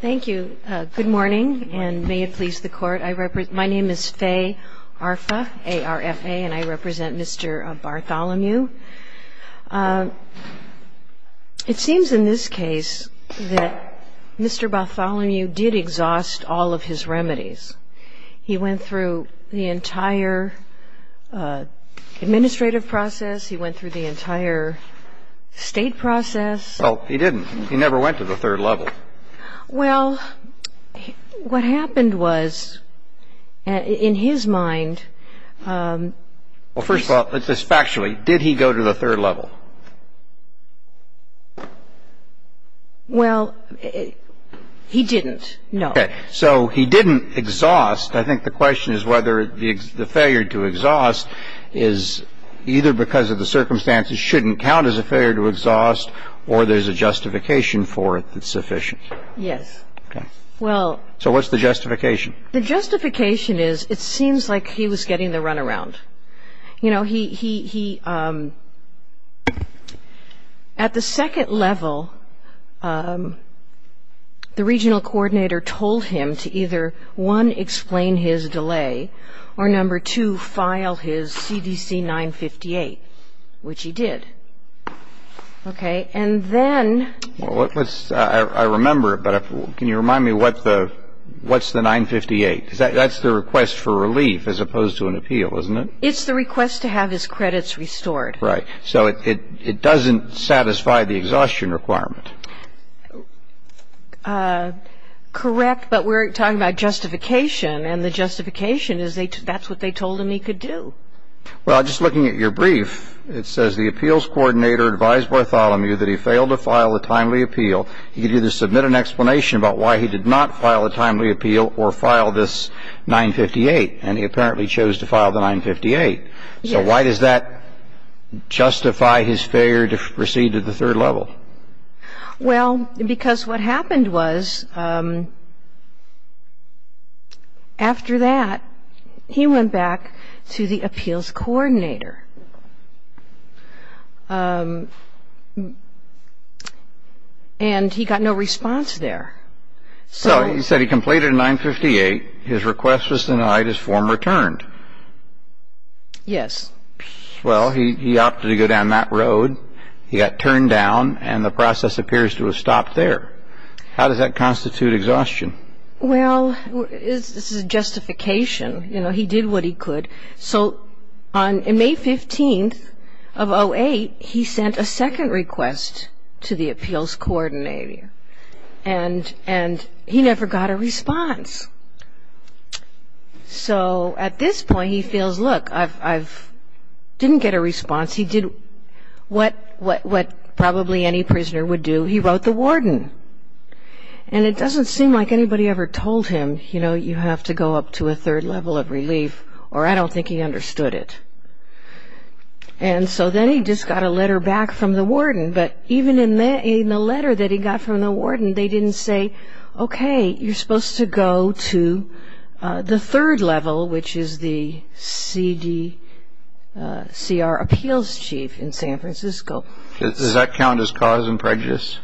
Thank you. Good morning, and may it please the Court. My name is Fay Arfa, A-R-F-A, and I represent Mr. Bartholomew. It seems in this case that Mr. Bartholomew did exhaust all of his remedies. He went through the entire administrative process. He went through the entire state process. Well, he didn't. He never went to the third level. Well, what happened was, in his mind... Well, first of all, let's just factually, did he go to the third level? Well, he didn't, no. Okay. So he didn't exhaust. I think the question is whether the failure to exhaust is either because of the circumstances shouldn't count as a failure to exhaust, or there's a justification for it that's sufficient. Yes. Okay. Well... So what's the justification? The justification is, it seems like he was getting the runaround. You know, he at the second level, the regional coordinator told him to either, one, explain his delay, or two, file his CDC 958, which he did. Okay. And then... Well, let's see. I remember it, but can you remind me what the ñ what's the 958? That's the request for relief as opposed to an appeal, isn't it? It's the request to have his credits restored. Right. So it doesn't satisfy the exhaustion requirement. Correct, but we're talking about justification, and the justification is that's what they told him he could do. Well, just looking at your brief, it says, the appeals coordinator advised Bartholomew that he failed to file a timely appeal. He could either submit an explanation about why he did not file a timely appeal or file this 958, and he apparently chose to file the 958. So why does that justify his failure to proceed to the third level? Well, because what happened was, after that, he went back to the appeals coordinator. And he got no response there. So he said he completed 958. His request was denied. His form returned. Yes. Well, he opted to go down that road. He got turned down, and the process appears to have stopped there. How does that constitute exhaustion? Well, this is justification. You know, he did what he could. So on May 15th of 08, he sent a second request to the appeals coordinator, and he never got a response. So at this point, he feels, look, I didn't get a response. He did what probably any prisoner would do. He wrote the warden. And it doesn't seem like anybody ever told him, you know, you have to go up to a third level of relief, or I don't think he understood it. And so then he just got a letter back from the warden. But even in the letter that he got from the warden, they didn't say, okay, you're supposed to go to the third level, which is the CDCR appeals chief in San Francisco. Does that count as cause and prejudice?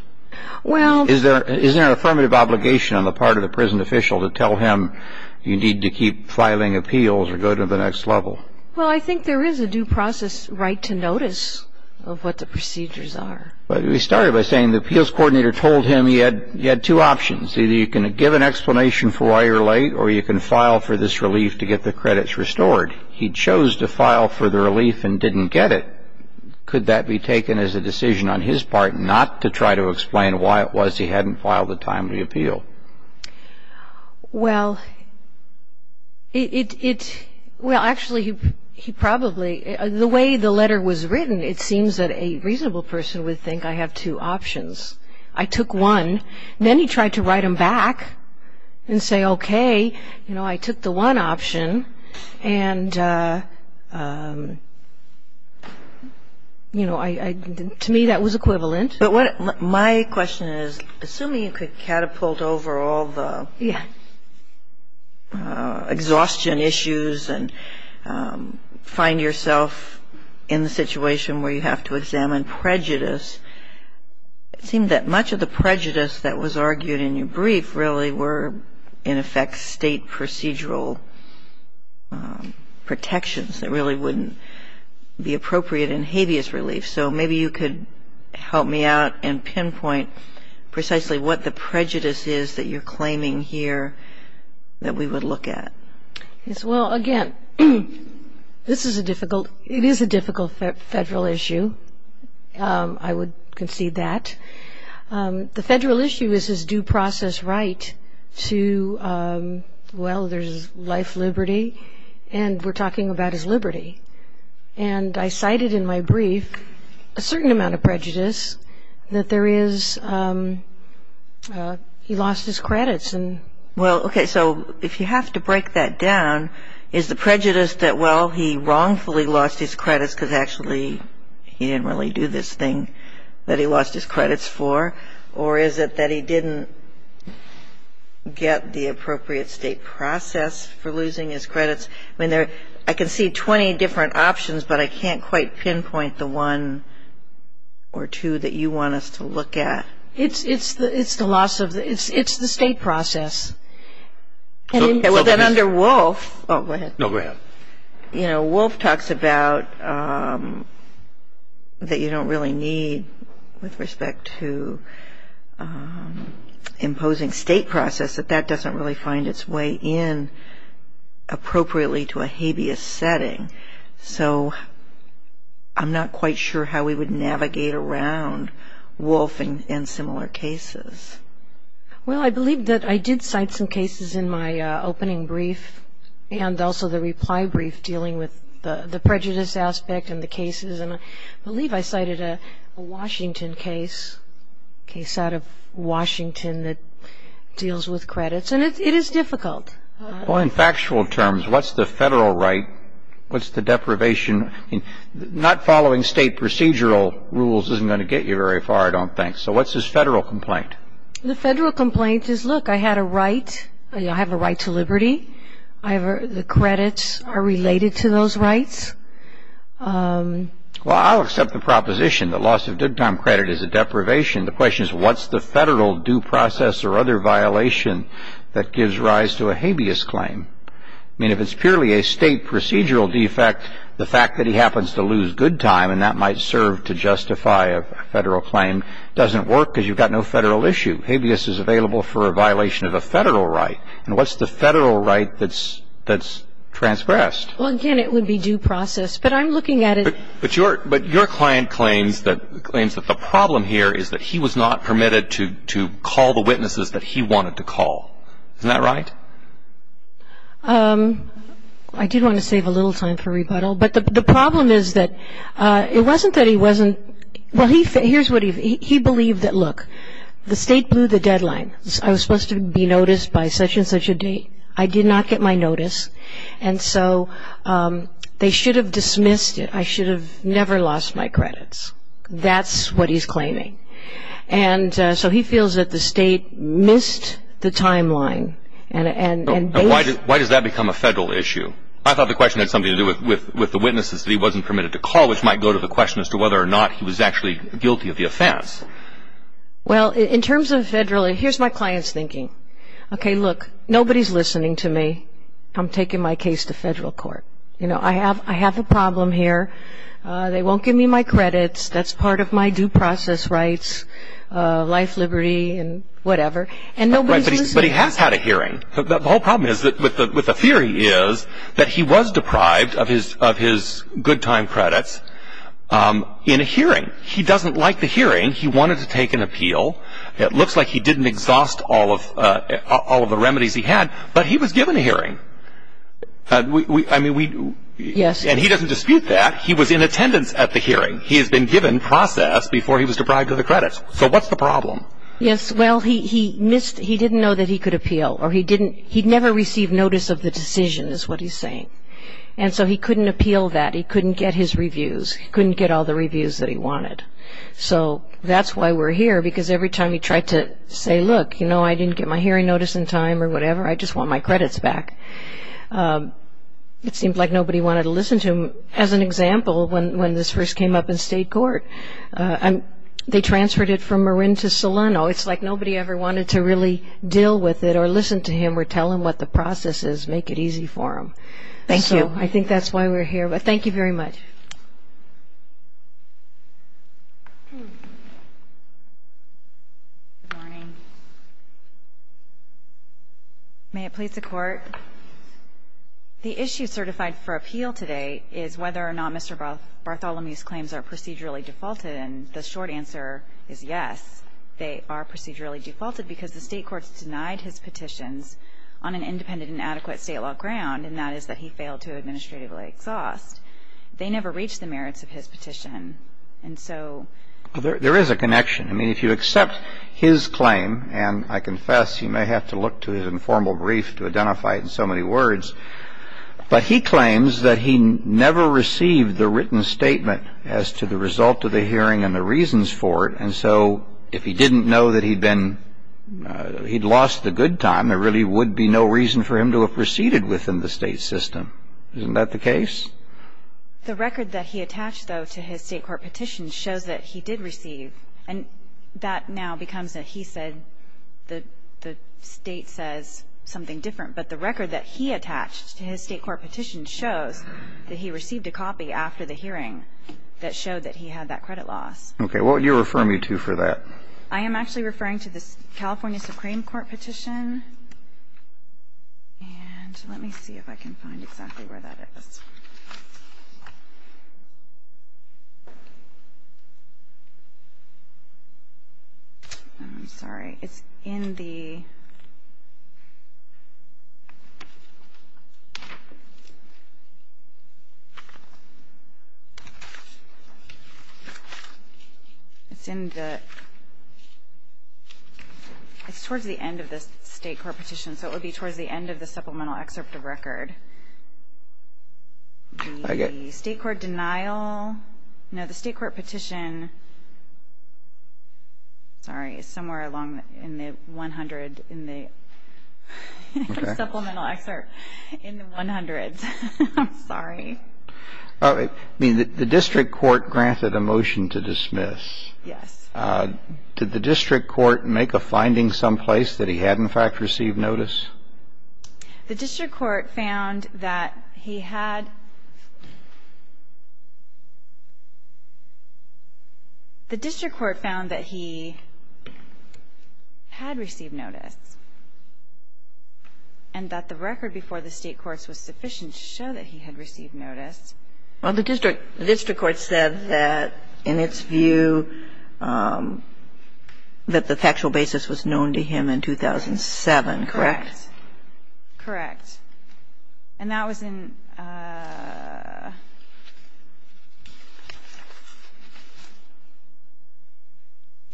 Well. Is there an affirmative obligation on the part of the prison official to tell him you need to keep filing appeals or go to the next level? Well, I think there is a due process right to notice of what the procedures are. But we started by saying the appeals coordinator told him he had two options. Either you can give an explanation for why you're late, or you can file for this relief to get the credits restored. He chose to file for the relief and didn't get it. Could that be taken as a decision on his part not to try to explain why it was he hadn't filed a timely appeal? Well, it – well, actually, he probably – the way the letter was written, it seems that a reasonable person would think I have two options. I took one. Then he tried to write them back and say, okay, you know, I took the one option. And, you know, to me that was equivalent. But my question is, assuming you could catapult over all the exhaustion issues and find yourself in the situation where you have to examine prejudice, it seemed that much of the prejudice that was argued in your brief really were, in effect, state procedural protections that really wouldn't be appropriate in habeas relief. So maybe you could help me out and pinpoint precisely what the prejudice is that you're claiming here that we would look at. Yes, well, again, this is a difficult – it is a difficult federal issue. I would concede that. The federal issue is his due process right to – well, there's life, liberty, and we're talking about his liberty. And I cited in my brief a certain amount of prejudice that there is – he lost his credits. Well, okay, so if you have to break that down, is the prejudice that, well, he wrongfully lost his credits because actually he didn't really do this thing that he lost his credits for, or is it that he didn't get the appropriate state process for losing his credits? I mean, I can see 20 different options, but I can't quite pinpoint the one or two that you want us to look at. It's the loss of – it's the state process. Well, then under Wolf – oh, go ahead. No, go ahead. You know, Wolf talks about that you don't really need with respect to imposing state process, that that doesn't really find its way in appropriately to a habeas setting. So I'm not quite sure how we would navigate around Wolf and similar cases. Well, I believe that I did cite some cases in my opening brief and also the reply brief dealing with the prejudice aspect and the cases, and I believe I cited a Washington case, a case out of Washington that deals with credits, and it is difficult. Well, in factual terms, what's the federal right? What's the deprivation? Not following state procedural rules isn't going to get you very far, I don't think. So what's his federal complaint? The federal complaint is, look, I had a right. I have a right to liberty. The credits are related to those rights. Well, I'll accept the proposition. The loss of due time credit is a deprivation. The question is what's the federal due process or other violation that gives rise to a habeas claim? I mean, if it's purely a state procedural defect, the fact that he happens to lose good time and that might serve to justify a federal claim doesn't work because you've got no federal issue. Habeas is available for a violation of a federal right. And what's the federal right that's transgressed? Well, again, it would be due process. But I'm looking at it. But your client claims that the problem here is that he was not permitted to call the witnesses that he wanted to call. Isn't that right? I did want to save a little time for rebuttal. But the problem is that it wasn't that he wasn't – well, here's what he – he believed that, look, the state blew the deadline. I was supposed to be noticed by such and such a date. I did not get my notice. And so they should have dismissed it. I should have never lost my credits. That's what he's claiming. And so he feels that the state missed the timeline. And why does that become a federal issue? I thought the question had something to do with the witnesses that he wasn't permitted to call, which might go to the question as to whether or not he was actually guilty of the offense. Well, in terms of federal – here's my client's thinking. Okay, look, nobody's listening to me. I'm taking my case to federal court. You know, I have a problem here. They won't give me my credits. That's part of my due process rights, life, liberty, and whatever. And nobody's listening. But he has had a hearing. The whole problem is that – with the theory is that he was deprived of his good time credits in a hearing. He doesn't like the hearing. He wanted to take an appeal. It looks like he didn't exhaust all of the remedies he had. But he was given a hearing. I mean, we – and he doesn't dispute that. He was in attendance at the hearing. He has been given process before he was deprived of the credits. So what's the problem? Yes, well, he missed – he didn't know that he could appeal. Or he didn't – he never received notice of the decision is what he's saying. And so he couldn't appeal that. He couldn't get his reviews. He couldn't get all the reviews that he wanted. So that's why we're here. Because every time he tried to say, look, you know, I didn't get my hearing notice in time or whatever. I just want my credits back. It seemed like nobody wanted to listen to him. As an example, when this first came up in state court, they transferred it from Marin to Solano. It's like nobody ever wanted to really deal with it or listen to him or tell him what the process is, make it easy for him. Thank you. So I think that's why we're here. Thank you very much. Good morning. May it please the Court. The issue certified for appeal today is whether or not Mr. Bartholomew's claims are procedurally defaulted. And the short answer is yes, they are procedurally defaulted because the state courts denied his petitions on an independent and adequate state law ground, and that is that he failed to administratively exhaust. They never reached the merits of his petition. There is a connection. I mean, if you accept his claim, and I confess, you may have to look to his informal brief to identify it in so many words, but he claims that he never received the written statement as to the result of the hearing and the reasons for it. And so if he didn't know that he'd lost the good time, there really would be no reason for him to have proceeded within the state system. Isn't that the case? The record that he attached, though, to his state court petition shows that he did receive, and that now becomes that he said the state says something different. But the record that he attached to his state court petition shows that he received a copy after the hearing that showed that he had that credit loss. Okay. What would you refer me to for that? I am actually referring to the California Supreme Court petition. And let me see if I can find exactly where that is. I'm sorry. It's in the... It's in the... State court petition. So it would be towards the end of the supplemental excerpt of record. The state court denial... No, the state court petition... Sorry, it's somewhere along in the 100 in the supplemental excerpt in the 100s. I'm sorry. I mean, the district court granted a motion to dismiss. Yes. Did the district court make a finding someplace that he had, in fact, received notice? The district court found that he had... The district court found that he had received notice, and that the record before the state courts was sufficient to show that he had received notice. Well, the district court said that, in its view, that the factual basis was known to him in 2007, correct? Correct. Correct. And that was in...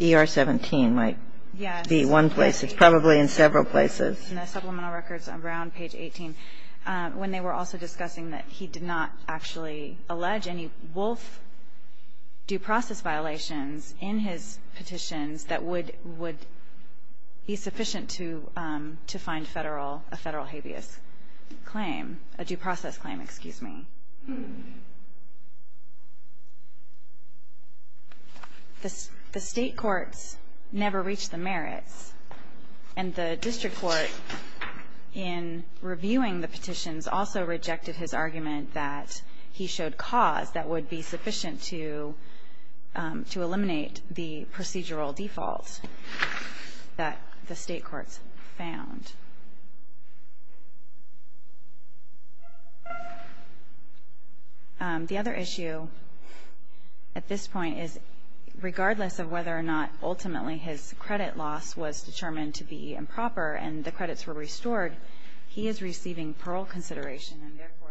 ER 17 might be one place. It's probably in several places. It's in the supplemental records around page 18, when they were also discussing that he did not actually allege any wolf due process violations in his petitions that would... He's sufficient to find a federal habeas claim, a due process claim, excuse me. The state courts never reached the merits, and the district court, in reviewing the petitions, also rejected his argument that he showed cause that would be sufficient to eliminate the procedural default that the state courts found. The other issue at this point is, regardless of whether or not ultimately his credit loss was determined to be improper and the credits were restored, he is receiving parole consideration, and therefore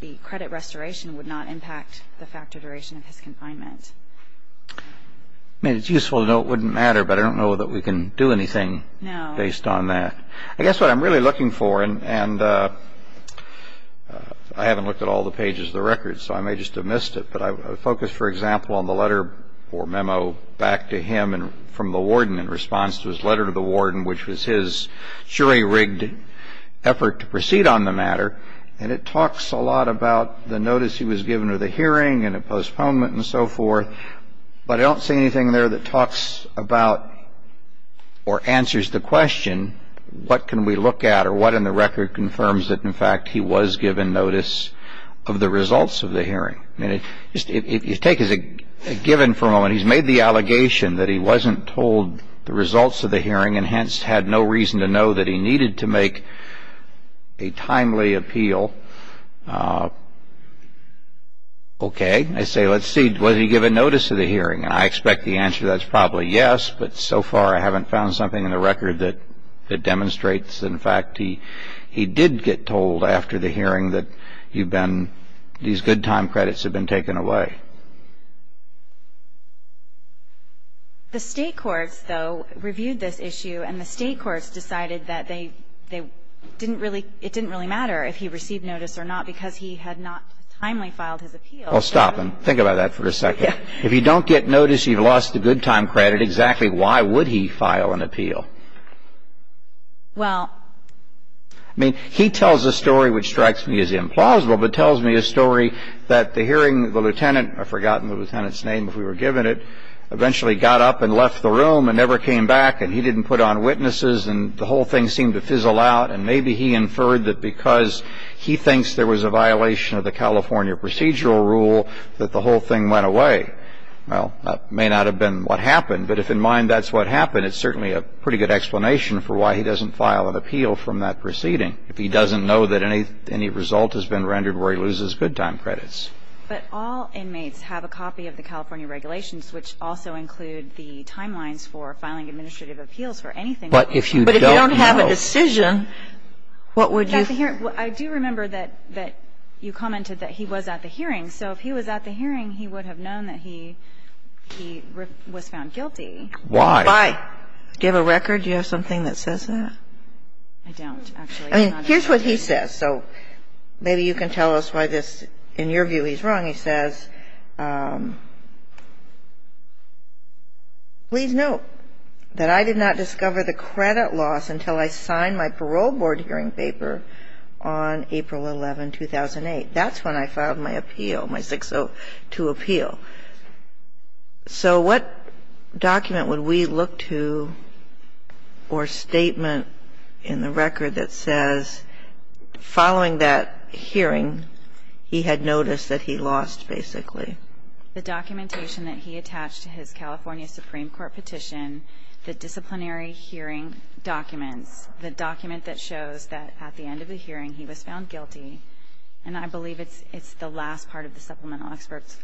the credit restoration would not impact the factor duration of his confinement. I mean, it's useful to know it wouldn't matter, but I don't know that we can do anything... No. ...based on that. I guess what I'm really looking for, and I haven't looked at all the pages of the record, so I may just have missed it, but I focused, for example, on the letter or memo back to him from the warden in response to his letter to the warden, which was his jury-rigged effort to proceed on the matter, and it talks a lot about the notice he was given to the hearing and a postponement and so forth, but I don't see anything there that talks about or answers the question, what can we look at or what in the record confirms that, in fact, he was given notice of the results of the hearing? I mean, if you take as a given for a moment, he's made the allegation that he wasn't told the results of the hearing and hence had no reason to know that he needed to make a timely appeal. Okay. I say, let's see, was he given notice of the hearing? And I expect the answer that's probably yes, but so far I haven't found something in the record that demonstrates, in fact, he did get told after the hearing that you've been, these good time credits have been taken away. The state courts, though, reviewed this issue, and the state courts decided that they didn't really, it didn't really matter if he received notice or not because he had not timely filed his appeal. Well, stop and think about that for a second. If you don't get notice, you've lost the good time credit, exactly why would he file an appeal? Well. I mean, he tells a story which strikes me as implausible, but tells me a story that the hearing, the lieutenant, I've forgotten the lieutenant's name if we were given it, eventually got up and left the room and never came back and he didn't put on witnesses and the whole thing seemed to fizzle out and maybe he inferred that because he thinks there was a violation of the California procedural rule that the whole thing went away. Well, that may not have been what happened, but if in mind that's what happened, it's certainly a pretty good explanation for why he doesn't file an appeal from that proceeding if he doesn't know that any result has been rendered where he loses good time credits. But all inmates have a copy of the California regulations, which also include the timelines for filing administrative appeals for anything. But if you don't know. But if you don't have a decision, what would you? I do remember that you commented that he was at the hearing. So if he was at the hearing, he would have known that he was found guilty. Why? Do you have a record? Do you have something that says that? I don't, actually. I mean, here's what he says. So maybe you can tell us why this, in your view, he's wrong. He says, please note that I did not discover the credit loss until I signed my parole board hearing paper on April 11, 2008. That's when I filed my appeal, my 602 appeal. So what document would we look to or statement in the record that says following that hearing, he had noticed that he lost, basically? The documentation that he attached to his California Supreme Court petition, the disciplinary hearing documents, the document that shows that at the end of the hearing, he was found guilty. And I believe it's the last part of the supplemental excerpts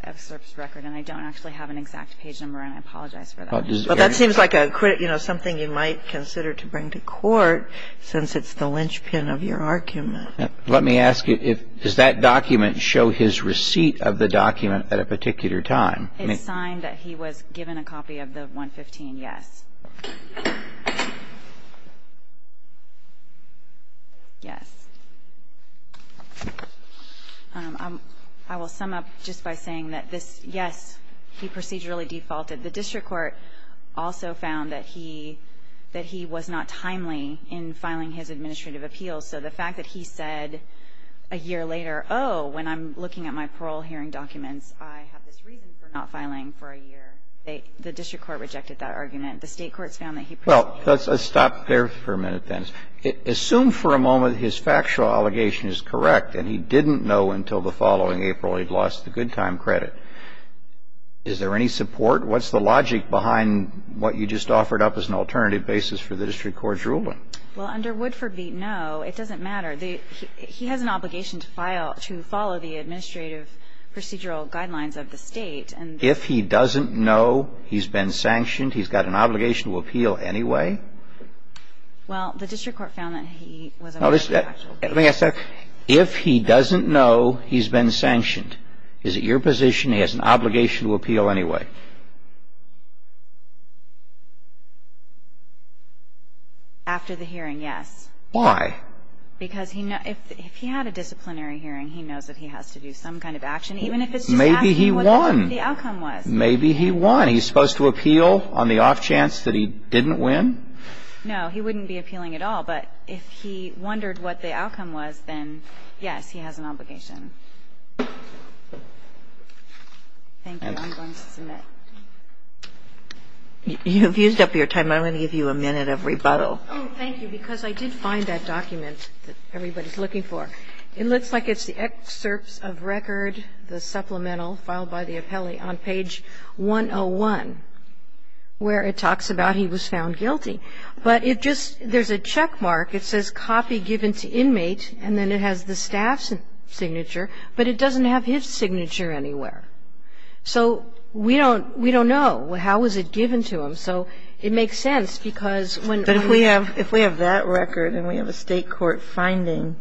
record. And I don't actually have an exact page number, and I apologize for that. Well, that seems like a credit, you know, something you might consider to bring to court since it's the linchpin of your argument. Let me ask you, does that document show his receipt of the document at a particular time? It's signed that he was given a copy of the 115, yes. Yes. I will sum up just by saying that this, yes, he procedurally defaulted. The district court also found that he was not timely in filing his administrative appeals. So the fact that he said a year later, oh, when I'm looking at my parole hearing documents, I have this reason for not filing for a year, the district court rejected that argument. The state courts found that he proceeded. Well, let's stop there for a minute, then. Assume for a moment his factual allegation is correct, and he didn't know until the following April he'd lost the good time credit. Is there any support? What's the logic behind what you just offered up as an alternative basis for the district court's ruling? Well, under Woodford v. No, it doesn't matter. He has an obligation to file to follow the administrative procedural guidelines of the State. If he doesn't know he's been sanctioned, he's got an obligation to appeal anyway? Well, the district court found that he was aware of the actual case. Let me ask that. If he doesn't know he's been sanctioned, is it your position he has an obligation to appeal anyway? After the hearing, yes. Why? Because if he had a disciplinary hearing, he knows that he has to do some kind of action, even if it's just asking what the outcome was. Maybe he won. Maybe he won. He's supposed to appeal on the off chance that he didn't win? No. He wouldn't be appealing at all. But if he wondered what the outcome was, then, yes, he has an obligation. Thank you. I'm going to submit. You've used up your time. I'm going to give you a minute of rebuttal. Oh, thank you, because I did find that document that everybody's looking for. It looks like it's the excerpts of record, the supplemental filed by the appellee, on page 101, where it talks about he was found guilty. But it just, there's a checkmark. It says copy given to inmate, and then it has the staff's signature, but it doesn't have his signature anywhere. So we don't know. How was it given to him? So it makes sense, because when we have But if we have that record and we have a state court finding,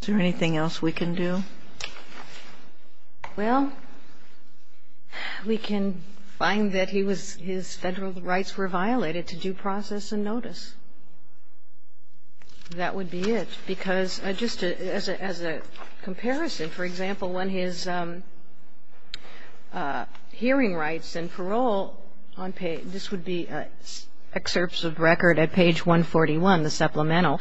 is there anything else we can do? Well, we can find that his federal rights were violated to due process and notice. That would be it. Because just as a comparison, for example, when his hearing rights and parole, this would be excerpts of record at page 141, the supplemental,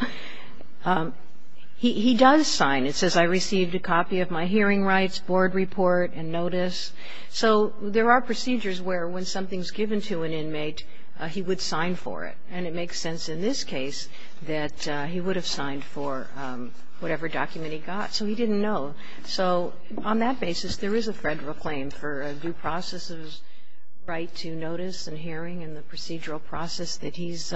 he does sign. It says I received a copy of my hearing rights, board report, and notice. So there are procedures where when something's given to an inmate, he would sign for it. And it makes sense in this case that he would have signed for whatever document he got. So he didn't know. So on that basis, there is a federal claim for a due process's right to notice and hearing and the procedural process that he's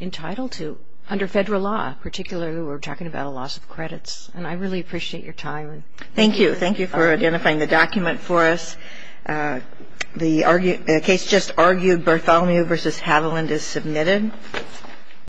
entitled to under federal law, particularly when we're talking about a loss of credits. And I really appreciate your time. Thank you. Thank you for identifying the document for us. The case just argued, Bartholomew v. Haviland is submitted.